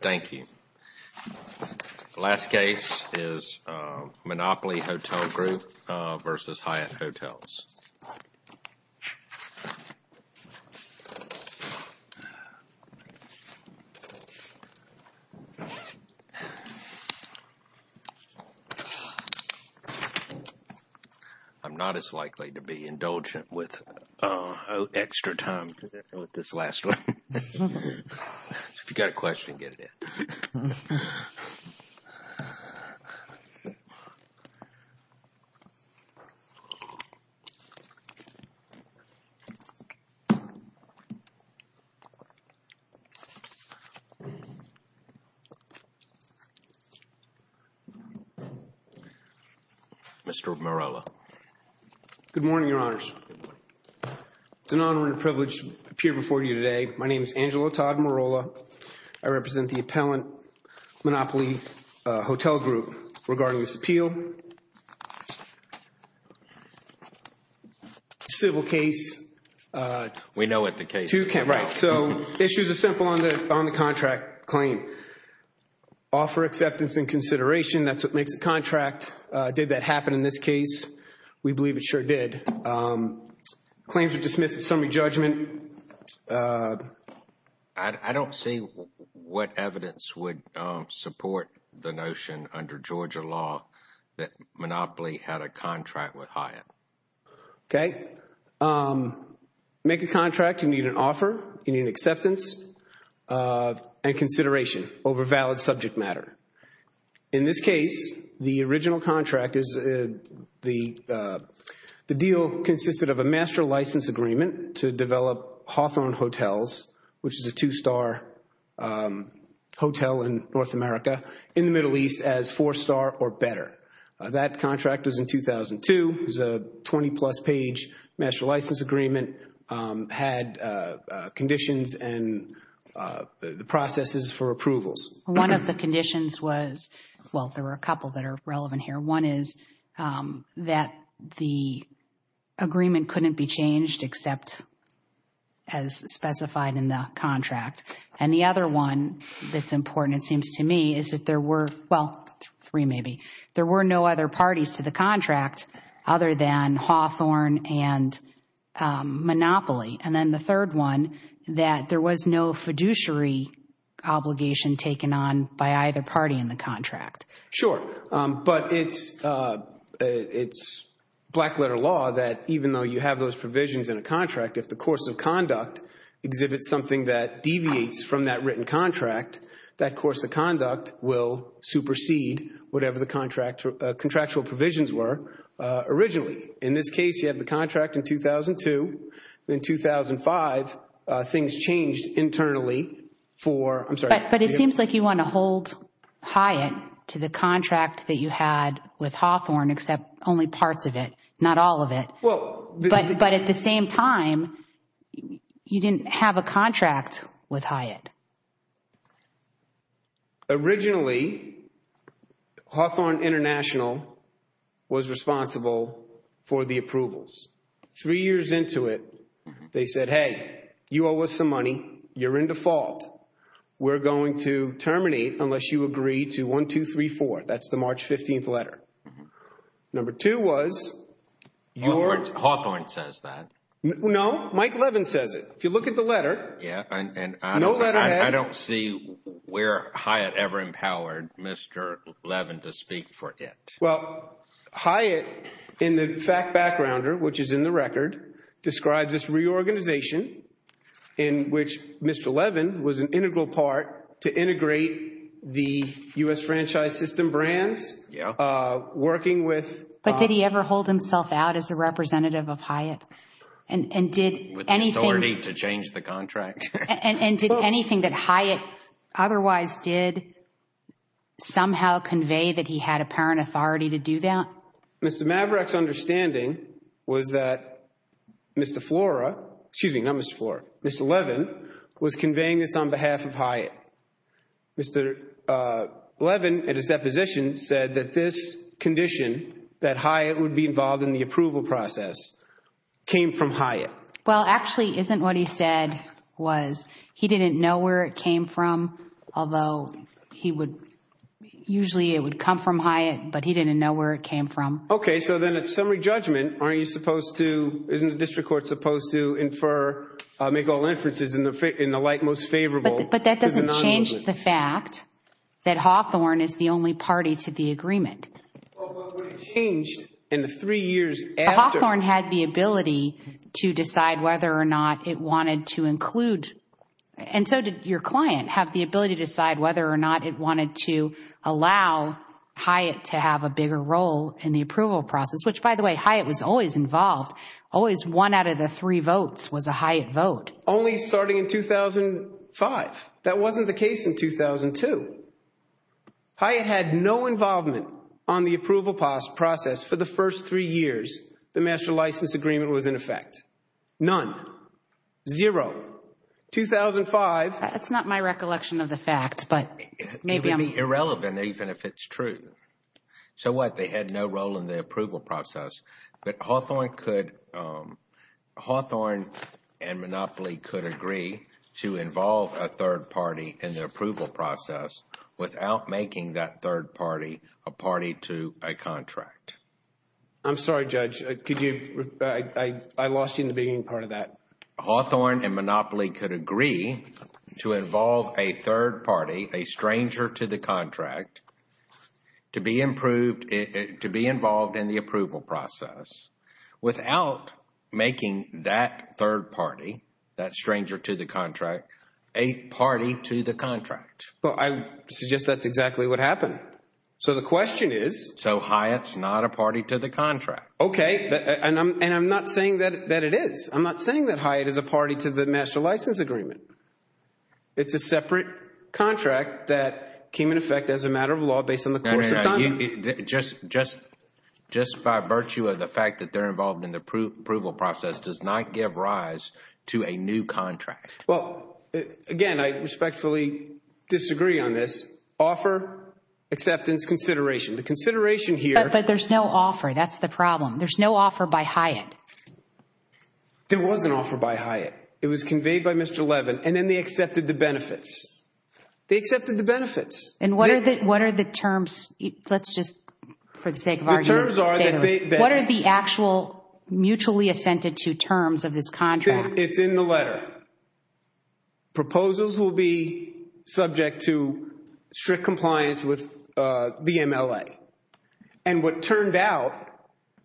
Thank you. Last case is Monopoly Hotel Group versus Hyatt Hotels. I'm not as likely to be indulgent with extra time with this last one. If you've got a question, get it in. Mr. Morello. Good morning, Your Honors. It's an honor and a privilege to appear before you today. My name is Angelo Todd Morello. I represent the appellant Monopoly Hotel Group regarding this appeal. Civil case. We know what the case is. Right. So issues are simple on the contract claim. Offer acceptance and consideration, that's what makes a contract. Did that happen in this case? We believe it sure did. Claims are dismissed at summary judgment. I don't see what evidence would support the notion under Georgia law that Monopoly had a contract with Hyatt. Okay. Make a contract, you need an offer, you need an acceptance and consideration over valid subject matter. In this case, the original contract, the deal consisted of a master license agreement to develop Hawthorne Hotels, which is a two-star hotel in North America, in the Middle East as four-star or better. That contract was in 2002. It was a 20-plus page master license agreement, had conditions and the processes for approvals. One of the conditions was, well, there were a couple that are relevant here. One is that the agreement couldn't be changed except as specified in the contract. And the other one that's important, it seems to me, is that there were, well, three maybe, there were no other parties to the contract other than Hawthorne and Monopoly. And then the third one that there was no fiduciary obligation taken on by either party in the contract. Sure. But it's black-letter law that even though you have those provisions in a contract, if the course of conduct exhibits something that deviates from that written contract, that course of conduct will supersede whatever the contractual provisions were originally. In this case, you have the contract in 2002. In 2005, things changed internally for... I'm sorry. But it seems like you want to hold Hyatt to the contract that you had with Hawthorne, except only parts of it, not all of it. But at the same time, you didn't have a contract with Hyatt. Originally, Hawthorne International was responsible for the approvals. Three years into it, they said, hey, you owe us some money. You're in default. We're going to terminate unless you agree to 1234. That's the March 15th letter. Number two was your... Hawthorne says that. No, Mike Levin says it. If you look at the letter... Yeah, and... I don't see where Hyatt ever empowered Mr. Levin to speak for it. Well, Hyatt, in the fact backgrounder, which is in the record, describes this reorganization in which Mr. Levin was an integral part to integrate the U.S. Franchise System brands, working with... But did he ever hold himself out as a representative of Hyatt? And did anything... With the authority to change the contract? And did anything that Hyatt otherwise did somehow convey that he had apparent authority to do that? Mr. Maverick's understanding was that Mr. Flora, excuse me, not Mr. Flora, Mr. Levin was conveying this on behalf of Hyatt. Mr. Levin, at his deposition, said that this condition, that Hyatt would be involved in the approval process, came from Hyatt. Well, actually, isn't what he said was... He didn't know where it came from, although he would... Usually it would come from Hyatt, but he didn't know where it came from. Okay, so then at summary judgment, aren't you supposed to... Isn't the district court supposed to infer, make all inferences in the light most favorable... But that doesn't change the fact that Hawthorne is the only party to the agreement. Well, but what changed in the three years after... To decide whether or not it wanted to include... And so did your client have the ability to decide whether or not it wanted to allow Hyatt to have a bigger role in the approval process? Which, by the way, Hyatt was always involved. Always one out of the three votes was a Hyatt vote. Only starting in 2005. That wasn't the case in 2002. Hyatt had no involvement on the approval process for the first three years the master license agreement was in effect. None. Zero. 2005... That's not my recollection of the facts, but maybe I'm... It would be irrelevant even if it's true. So what? They had no role in the approval process. But Hawthorne could... Hawthorne and Monopoly could agree to involve a third party in the approval process without making that third party a party to a contract. I'm sorry, Judge. Could you... I lost you in the beginning part of that. Hawthorne and Monopoly could agree to involve a third party, a stranger to the contract, to be involved in the approval process without making that third party, that stranger to the contract, a party to the contract. Well, I suggest that's exactly what happened. So the question is... So Hyatt's not a party to the contract. Okay. And I'm not saying that it is. I'm not saying that Hyatt is a party to the master license agreement. It's a separate contract that came in effect as a matter of law based on the... Just by virtue of the fact that they're involved in the approval process does not give rise to a new contract. Well, again, I respectfully disagree on this. Offer acceptance consideration. But there's no offer. That's the problem. There's no offer by Hyatt. There was an offer by Hyatt. It was conveyed by Mr. Levin. And then they accepted the benefits. They accepted the benefits. And what are the terms? Let's just, for the sake of argument... The terms are that they... What are the actual mutually assented to terms of this contract? It's in the letter. But proposals will be subject to strict compliance with the MLA. And what turned out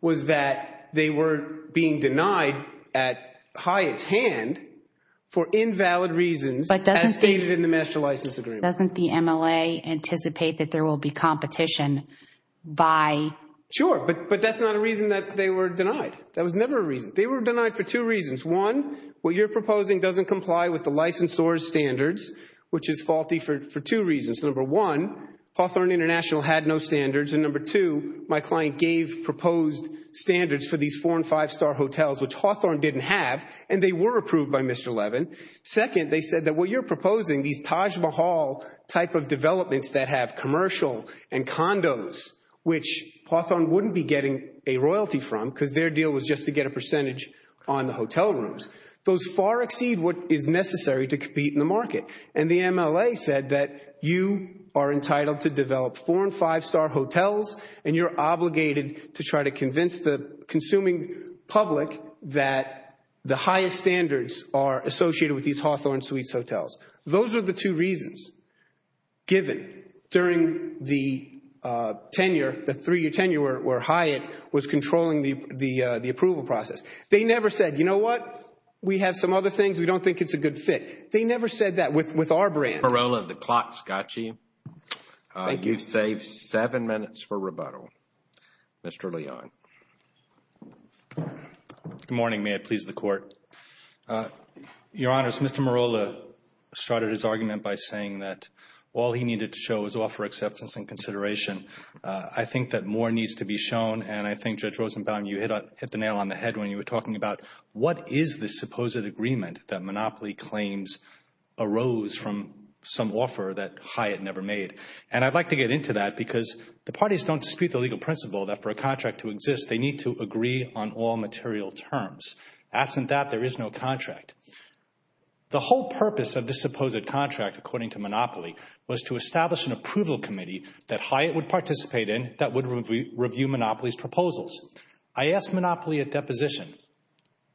was that they were being denied at Hyatt's hand for invalid reasons as stated in the master license agreement. Doesn't the MLA anticipate that there will be competition by... Sure, but that's not a reason that they were denied. That was never a reason. They were denied for two reasons. One, what you're proposing doesn't comply with the licensor's standards, which is faulty for two reasons. Number one, Hawthorne International had no standards. And number two, my client gave proposed standards for these four and five star hotels, which Hawthorne didn't have. And they were approved by Mr. Levin. Second, they said that what you're proposing, these Taj Mahal type of developments that have commercial and condos, which Hawthorne wouldn't be getting a royalty from because their deal was just to get a percentage on the hotel rooms, those far exceed what is necessary to compete in the market. And the MLA said that you are entitled to develop four and five star hotels and you're obligated to try to convince the consuming public that the highest standards are associated with these Hawthorne Suites hotels. Those are the two reasons given during the tenure, the three-year tenure where Hyatt was controlling the approval process. They never said, you know what? We have some other things. We don't think it's a good fit. They never said that with our brand. Marola, the clock's got you. You've saved seven minutes for rebuttal. Mr. Leon. Good morning. May it please the Court. Your Honor, Mr. Marola started his argument by saying that all he needed to show was offer acceptance and consideration. I think that more needs to be shown and I think Judge Rosenbaum, you hit the nail on the head when you were talking about what is this supposed agreement that Monopoly claims arose from some offer that Hyatt never made. And I'd like to get into that because the parties don't dispute the legal principle that for a contract to exist, they need to agree on all material terms. Absent that, there is no contract. The whole purpose of this supposed contract, according to Monopoly, was to establish an approval committee that Hyatt would participate in that would review Monopoly's proposals. I asked Monopoly at deposition,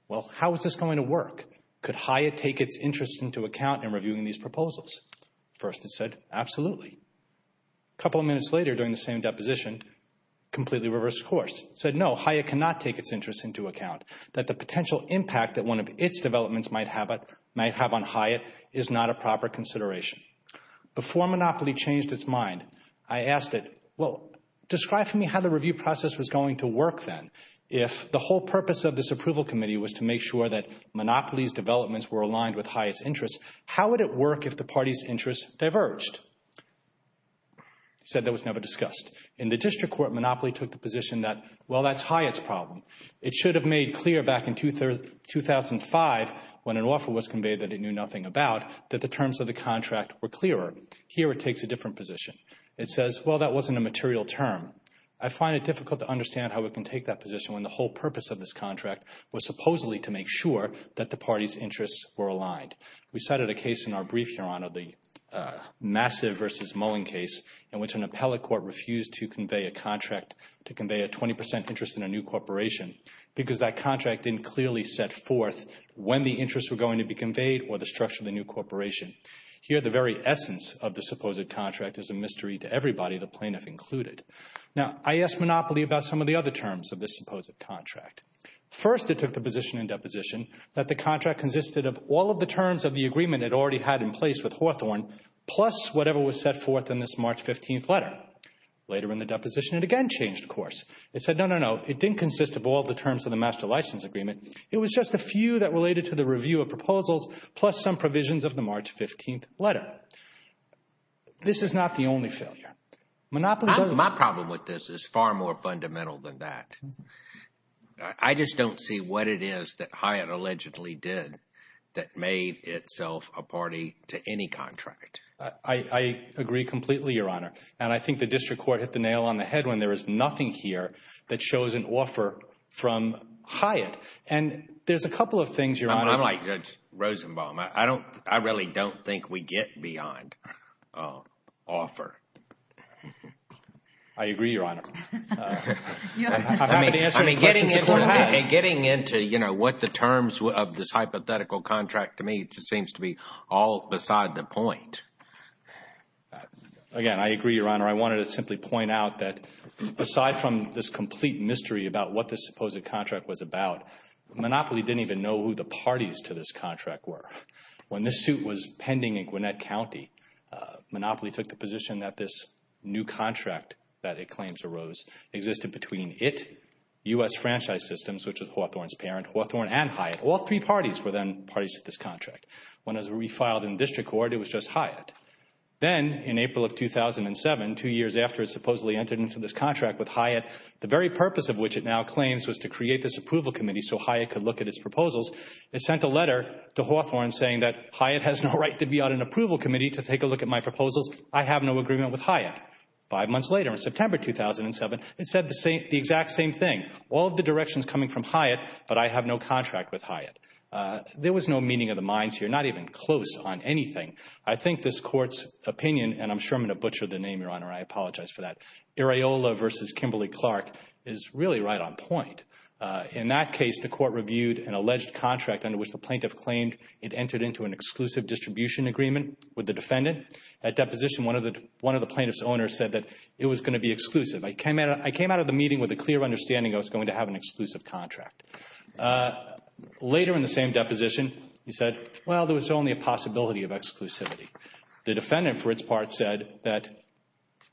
well, how is this going to work? Could Hyatt take its interest into account in reviewing these proposals? First, it said, absolutely. A couple of minutes later, during the same deposition, completely reversed course. It said, no, Hyatt cannot take its interest into account. That the potential impact that one of its developments might have on Hyatt is not a proper consideration. Before Monopoly changed its mind, I asked it, well, describe for me how the review process was going to work then if the whole purpose of this approval committee was to make sure that Monopoly's developments were aligned with Hyatt's interests. How would it work if the party's interests diverged? It said that was never discussed. In the district court, Monopoly took the position that, well, that's Hyatt's problem. It should have made clear back in 2005 when an offer was conveyed that it knew nothing about that the terms of the contract were clearer. Here it takes a different position. It says, well, that wasn't a material term. I find it difficult to understand how it can take that position when the whole purpose of this contract was supposedly to make sure that the party's interests were aligned. We cited a case in our brief, Your Honor, the Massive v. Mullin case in which an appellate court refused to convey a contract to convey a 20 percent interest in a new corporation because that contract didn't clearly set forth when the interests were going to be conveyed or the structure of the new corporation. Here the very essence of the supposed contract is a mystery to everybody, the plaintiff included. Now, I asked Monopoly about some of the other terms of this supposed contract. First, it took the position in deposition that the contract consisted of all of the terms of the agreement it already had in place with Hawthorne plus whatever was set forth in this March 15th letter. Later in the deposition, it again changed course. It said, no, no, no, it didn't consist of all the terms of the master license agreement. It was just a few that related to the review of proposals plus some provisions of the March 15th letter. This is not the only failure. My problem with this is far more fundamental than that. I just don't see what it is that Hyatt allegedly did that made itself a party to any contract. I agree completely, Your Honor, and I think the district court hit the nail on the head when there is nothing here that shows an offer from Hyatt and there's a couple of things, Your Honor. I'm like Judge Rosenbaum. I don't, I really don't think we get beyond offer. I agree, Your Honor. And getting into, you know, what the terms of this hypothetical contract to me just seems to be all beside the point. Again, I agree, Your Honor. I wanted to simply point out that aside from this complete mystery about what this supposed contract was about, Monopoly didn't even know who the parties to this contract were. When this suit was pending in Gwinnett County, Monopoly took the position that this new contract that it claims arose existed between it, U.S. Franchise Systems, which was Hawthorne's parent, Hawthorne and Hyatt. All three parties were then parties to this contract. When it was refiled in district court, it was just Hyatt. Then in April of 2007, two years after it supposedly entered into this contract with Hyatt, the very purpose of which it now claims was to create this approval committee so Hyatt could look at its proposals, it sent a letter to Hawthorne saying that Hyatt has no right to be on an approval committee to take a look at my proposals. I have no agreement with Hyatt. Five months later, in September 2007, it said the exact same thing. All of the directions coming from Hyatt, but I have no contract with Hyatt. There was no meeting of the minds here, not even close on anything. I think this court's opinion, and I'm sure I'm going to butcher the name, Your Honor, I apologize for that. Areola versus Kimberly-Clark is really right on point. In that case, the court reviewed an alleged contract under which the plaintiff claimed it entered into an exclusive distribution agreement with the defendant. At deposition, one of the plaintiff's owners said that it was going to be exclusive. I came out of the meeting with a clear understanding I was going to have an exclusive contract. Later in the same deposition, he said, well, there was only a possibility of exclusivity. The defendant, for its part, said that,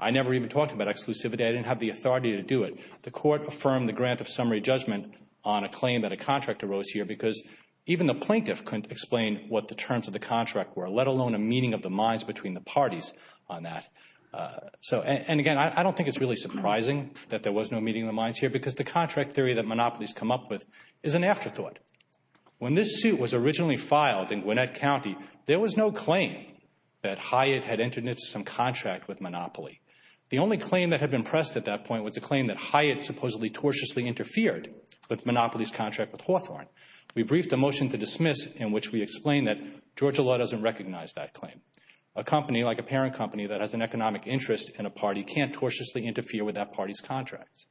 I never even talked about exclusivity. I didn't have the authority to do it. The court affirmed the grant of summary judgment on a claim that a contract arose here because even the plaintiff couldn't explain what the terms of the contract were, let alone a meeting of the minds between the parties on that. And again, I don't think it's really surprising that there was no meeting of the minds here because the contract theory that monopolies come up with is an afterthought. When this suit was originally filed in Gwinnett County, there was no claim that Hyatt had entered into some contract with Monopoly. The only claim that had been pressed at that point was a claim that Hyatt supposedly tortiously interfered with Monopoly's contract with Hawthorne. We briefed a motion to dismiss in which we explained that Georgia law doesn't recognize that claim. A company like a parent company that has an economic interest in a party can't tortiously interfere with that party's contracts.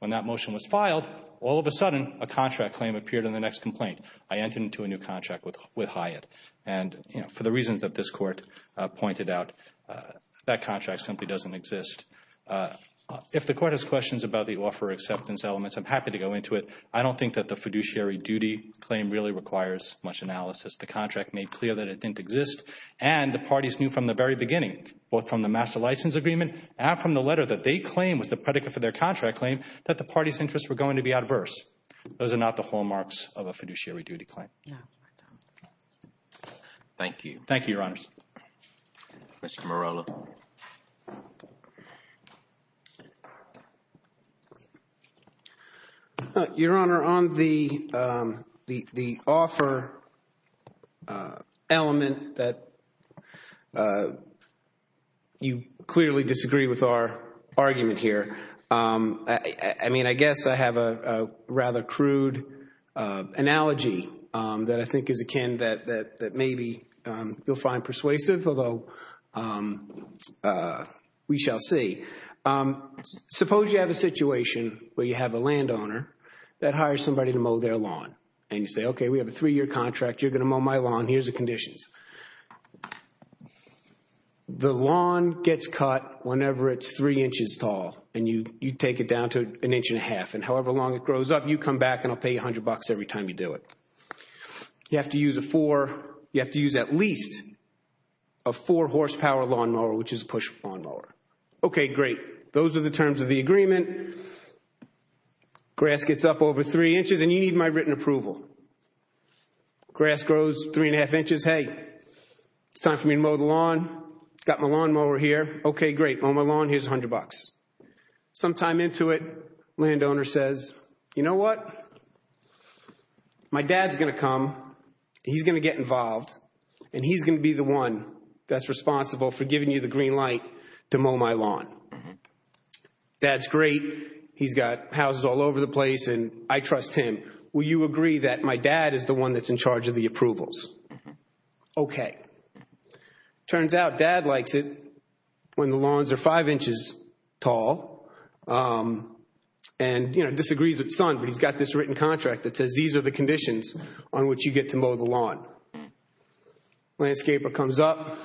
When that motion was filed, all of a sudden, a contract claim appeared in the next complaint. I entered into a new contract with Hyatt. And for the reasons that this court pointed out, that contract simply doesn't exist. If the court has questions about the offer acceptance elements, I'm happy to go into it. I don't think that the fiduciary duty claim really requires much analysis. The contract made clear that it didn't exist. And the parties knew from the very beginning, both from the master license agreement and from the letter that they claimed was the predicate for their contract claim, that the party's interests were going to be adverse. Those are not the hallmarks of a fiduciary duty claim. Yeah. Thank you. Thank you, Your Honors. Mr. Morello. Your Honor, on the offer element that you clearly disagree with our argument here, I mean, I guess I have a rather crude analogy that I think is akin that maybe you'll find persuasive, although we shall see. Suppose you have a situation where you have a landowner that hires somebody to mow their lawn. And you say, okay, we have a three-year contract. You're going to mow my lawn. Here's the conditions. The lawn gets cut whenever it's three inches tall and you take it down to an inch and a half. And however long it grows up, you come back and I'll pay you a hundred bucks every time you do it. You have to use a four. You have to use at least a four horsepower lawnmower, which is a push lawnmower. Okay, great. Those are the terms of the agreement. Grass gets up over three inches and you need my written approval. Grass grows three and a half inches. Hey, it's time for me to mow the lawn. Got my lawnmower here. Okay, great. Mow my lawn. Here's a hundred bucks. Sometime into it, landowner says, you know what? My dad's going to come. He's going to get involved and he's going to be the one that's responsible for giving you the green light to mow my lawn. Dad's great. He's got houses all over the place and I trust him. Will you agree that my dad is the one that's in charge of the approvals? Okay. Turns out dad likes it when the lawns are five inches tall and, you know, disagrees with son, but he's got this written contract that says these are the conditions on which you get to mow the lawn. Landscaper comes up.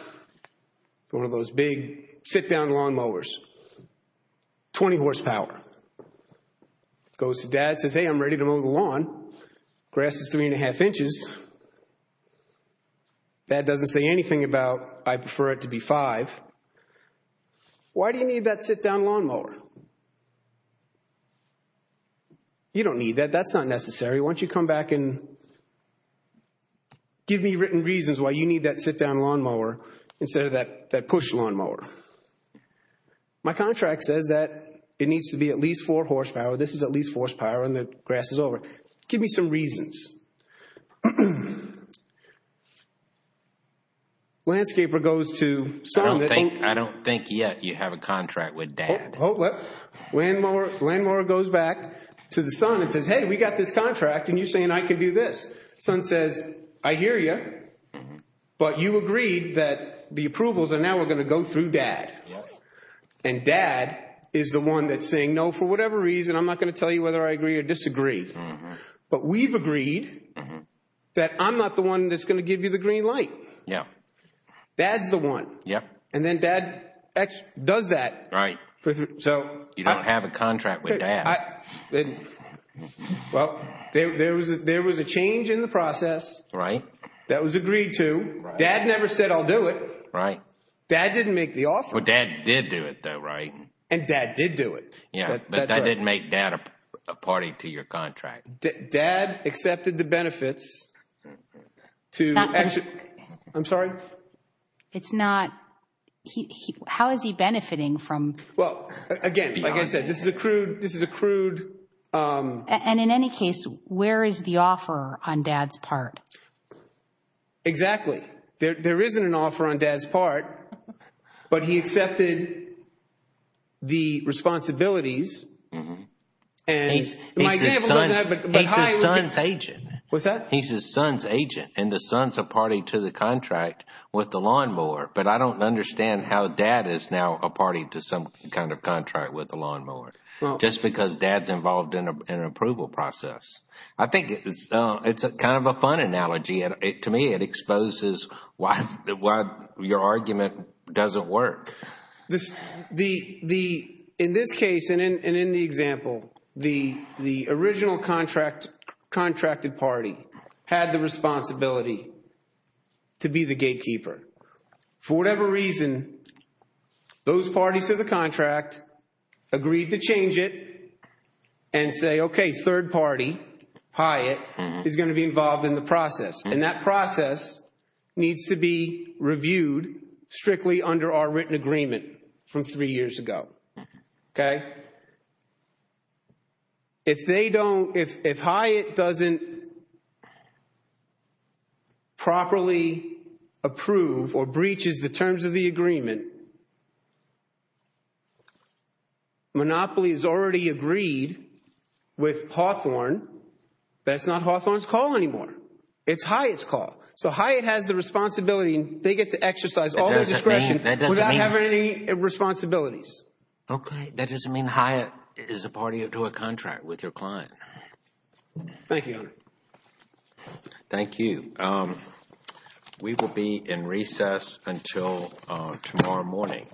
It's one of those big sit-down lawn mowers. 20 horsepower. Goes to dad, says, hey, I'm ready to mow the lawn. Grass is three and a half inches. Dad doesn't say anything about I prefer it to be five. Why do you need that sit-down lawn mower? You don't need that. That's not necessary. Once you come back and give me written reasons why you need that sit-down lawn mower instead of that push lawn mower. My contract says that it needs to be at least four horsepower. This is at least horsepower and the grass is over. Give me some reasons. Landscaper goes to son. I don't think yet you have a contract with dad. Landmower goes back to the son and says, hey, we got this contract and you're saying I can do this. Son says, I hear you. But you agreed that the approvals are now we're going to go through dad. And dad is the one that's saying, no, for whatever reason, I'm not going to tell you whether I agree or disagree. But we've agreed that I'm not the one that's going to give you the green light. Dad's the one. And then dad does that. You don't have a contract with dad. Well, there was a change in the process. Right. That was agreed to. Dad never said I'll do it. Right. Dad didn't make the offer. But dad did do it, though, right? And dad did do it. Yeah, but that didn't make dad a party to your contract. Dad accepted the benefits. I'm sorry. How is he benefiting from? Well, again, like I said, this is a crude. This is a crude. And in any case, where is the offer on dad's part? Exactly. There isn't an offer on dad's part, but he accepted the responsibilities. And he's his son's agent. What's that? He's his son's agent. And the son's a party to the contract with the lawnmower. But I don't understand how dad is now a party to some kind of contract with the lawnmower. Just because dad's involved in an approval process. I think it's kind of a fun analogy. To me, it exposes why your argument doesn't work. In this case and in the example, the original contracted party had the responsibility to be the gatekeeper. For whatever reason, those parties to the contract agreed to change it and say, okay, third party, Hyatt, is going to be involved in the process. And that process needs to be reviewed strictly under our written agreement from three years ago. Okay. If they don't, if Hyatt doesn't properly approve or breaches the terms of the agreement, Monopoly has already agreed with Hawthorne, that's not Hawthorne's call anymore. It's Hyatt's call. So Hyatt has the responsibility. They get to exercise all their discretion without having any responsibilities. Okay, that doesn't mean Hyatt is a party to a contract with your client. Thank you. Thank you. We will be in recess until tomorrow morning.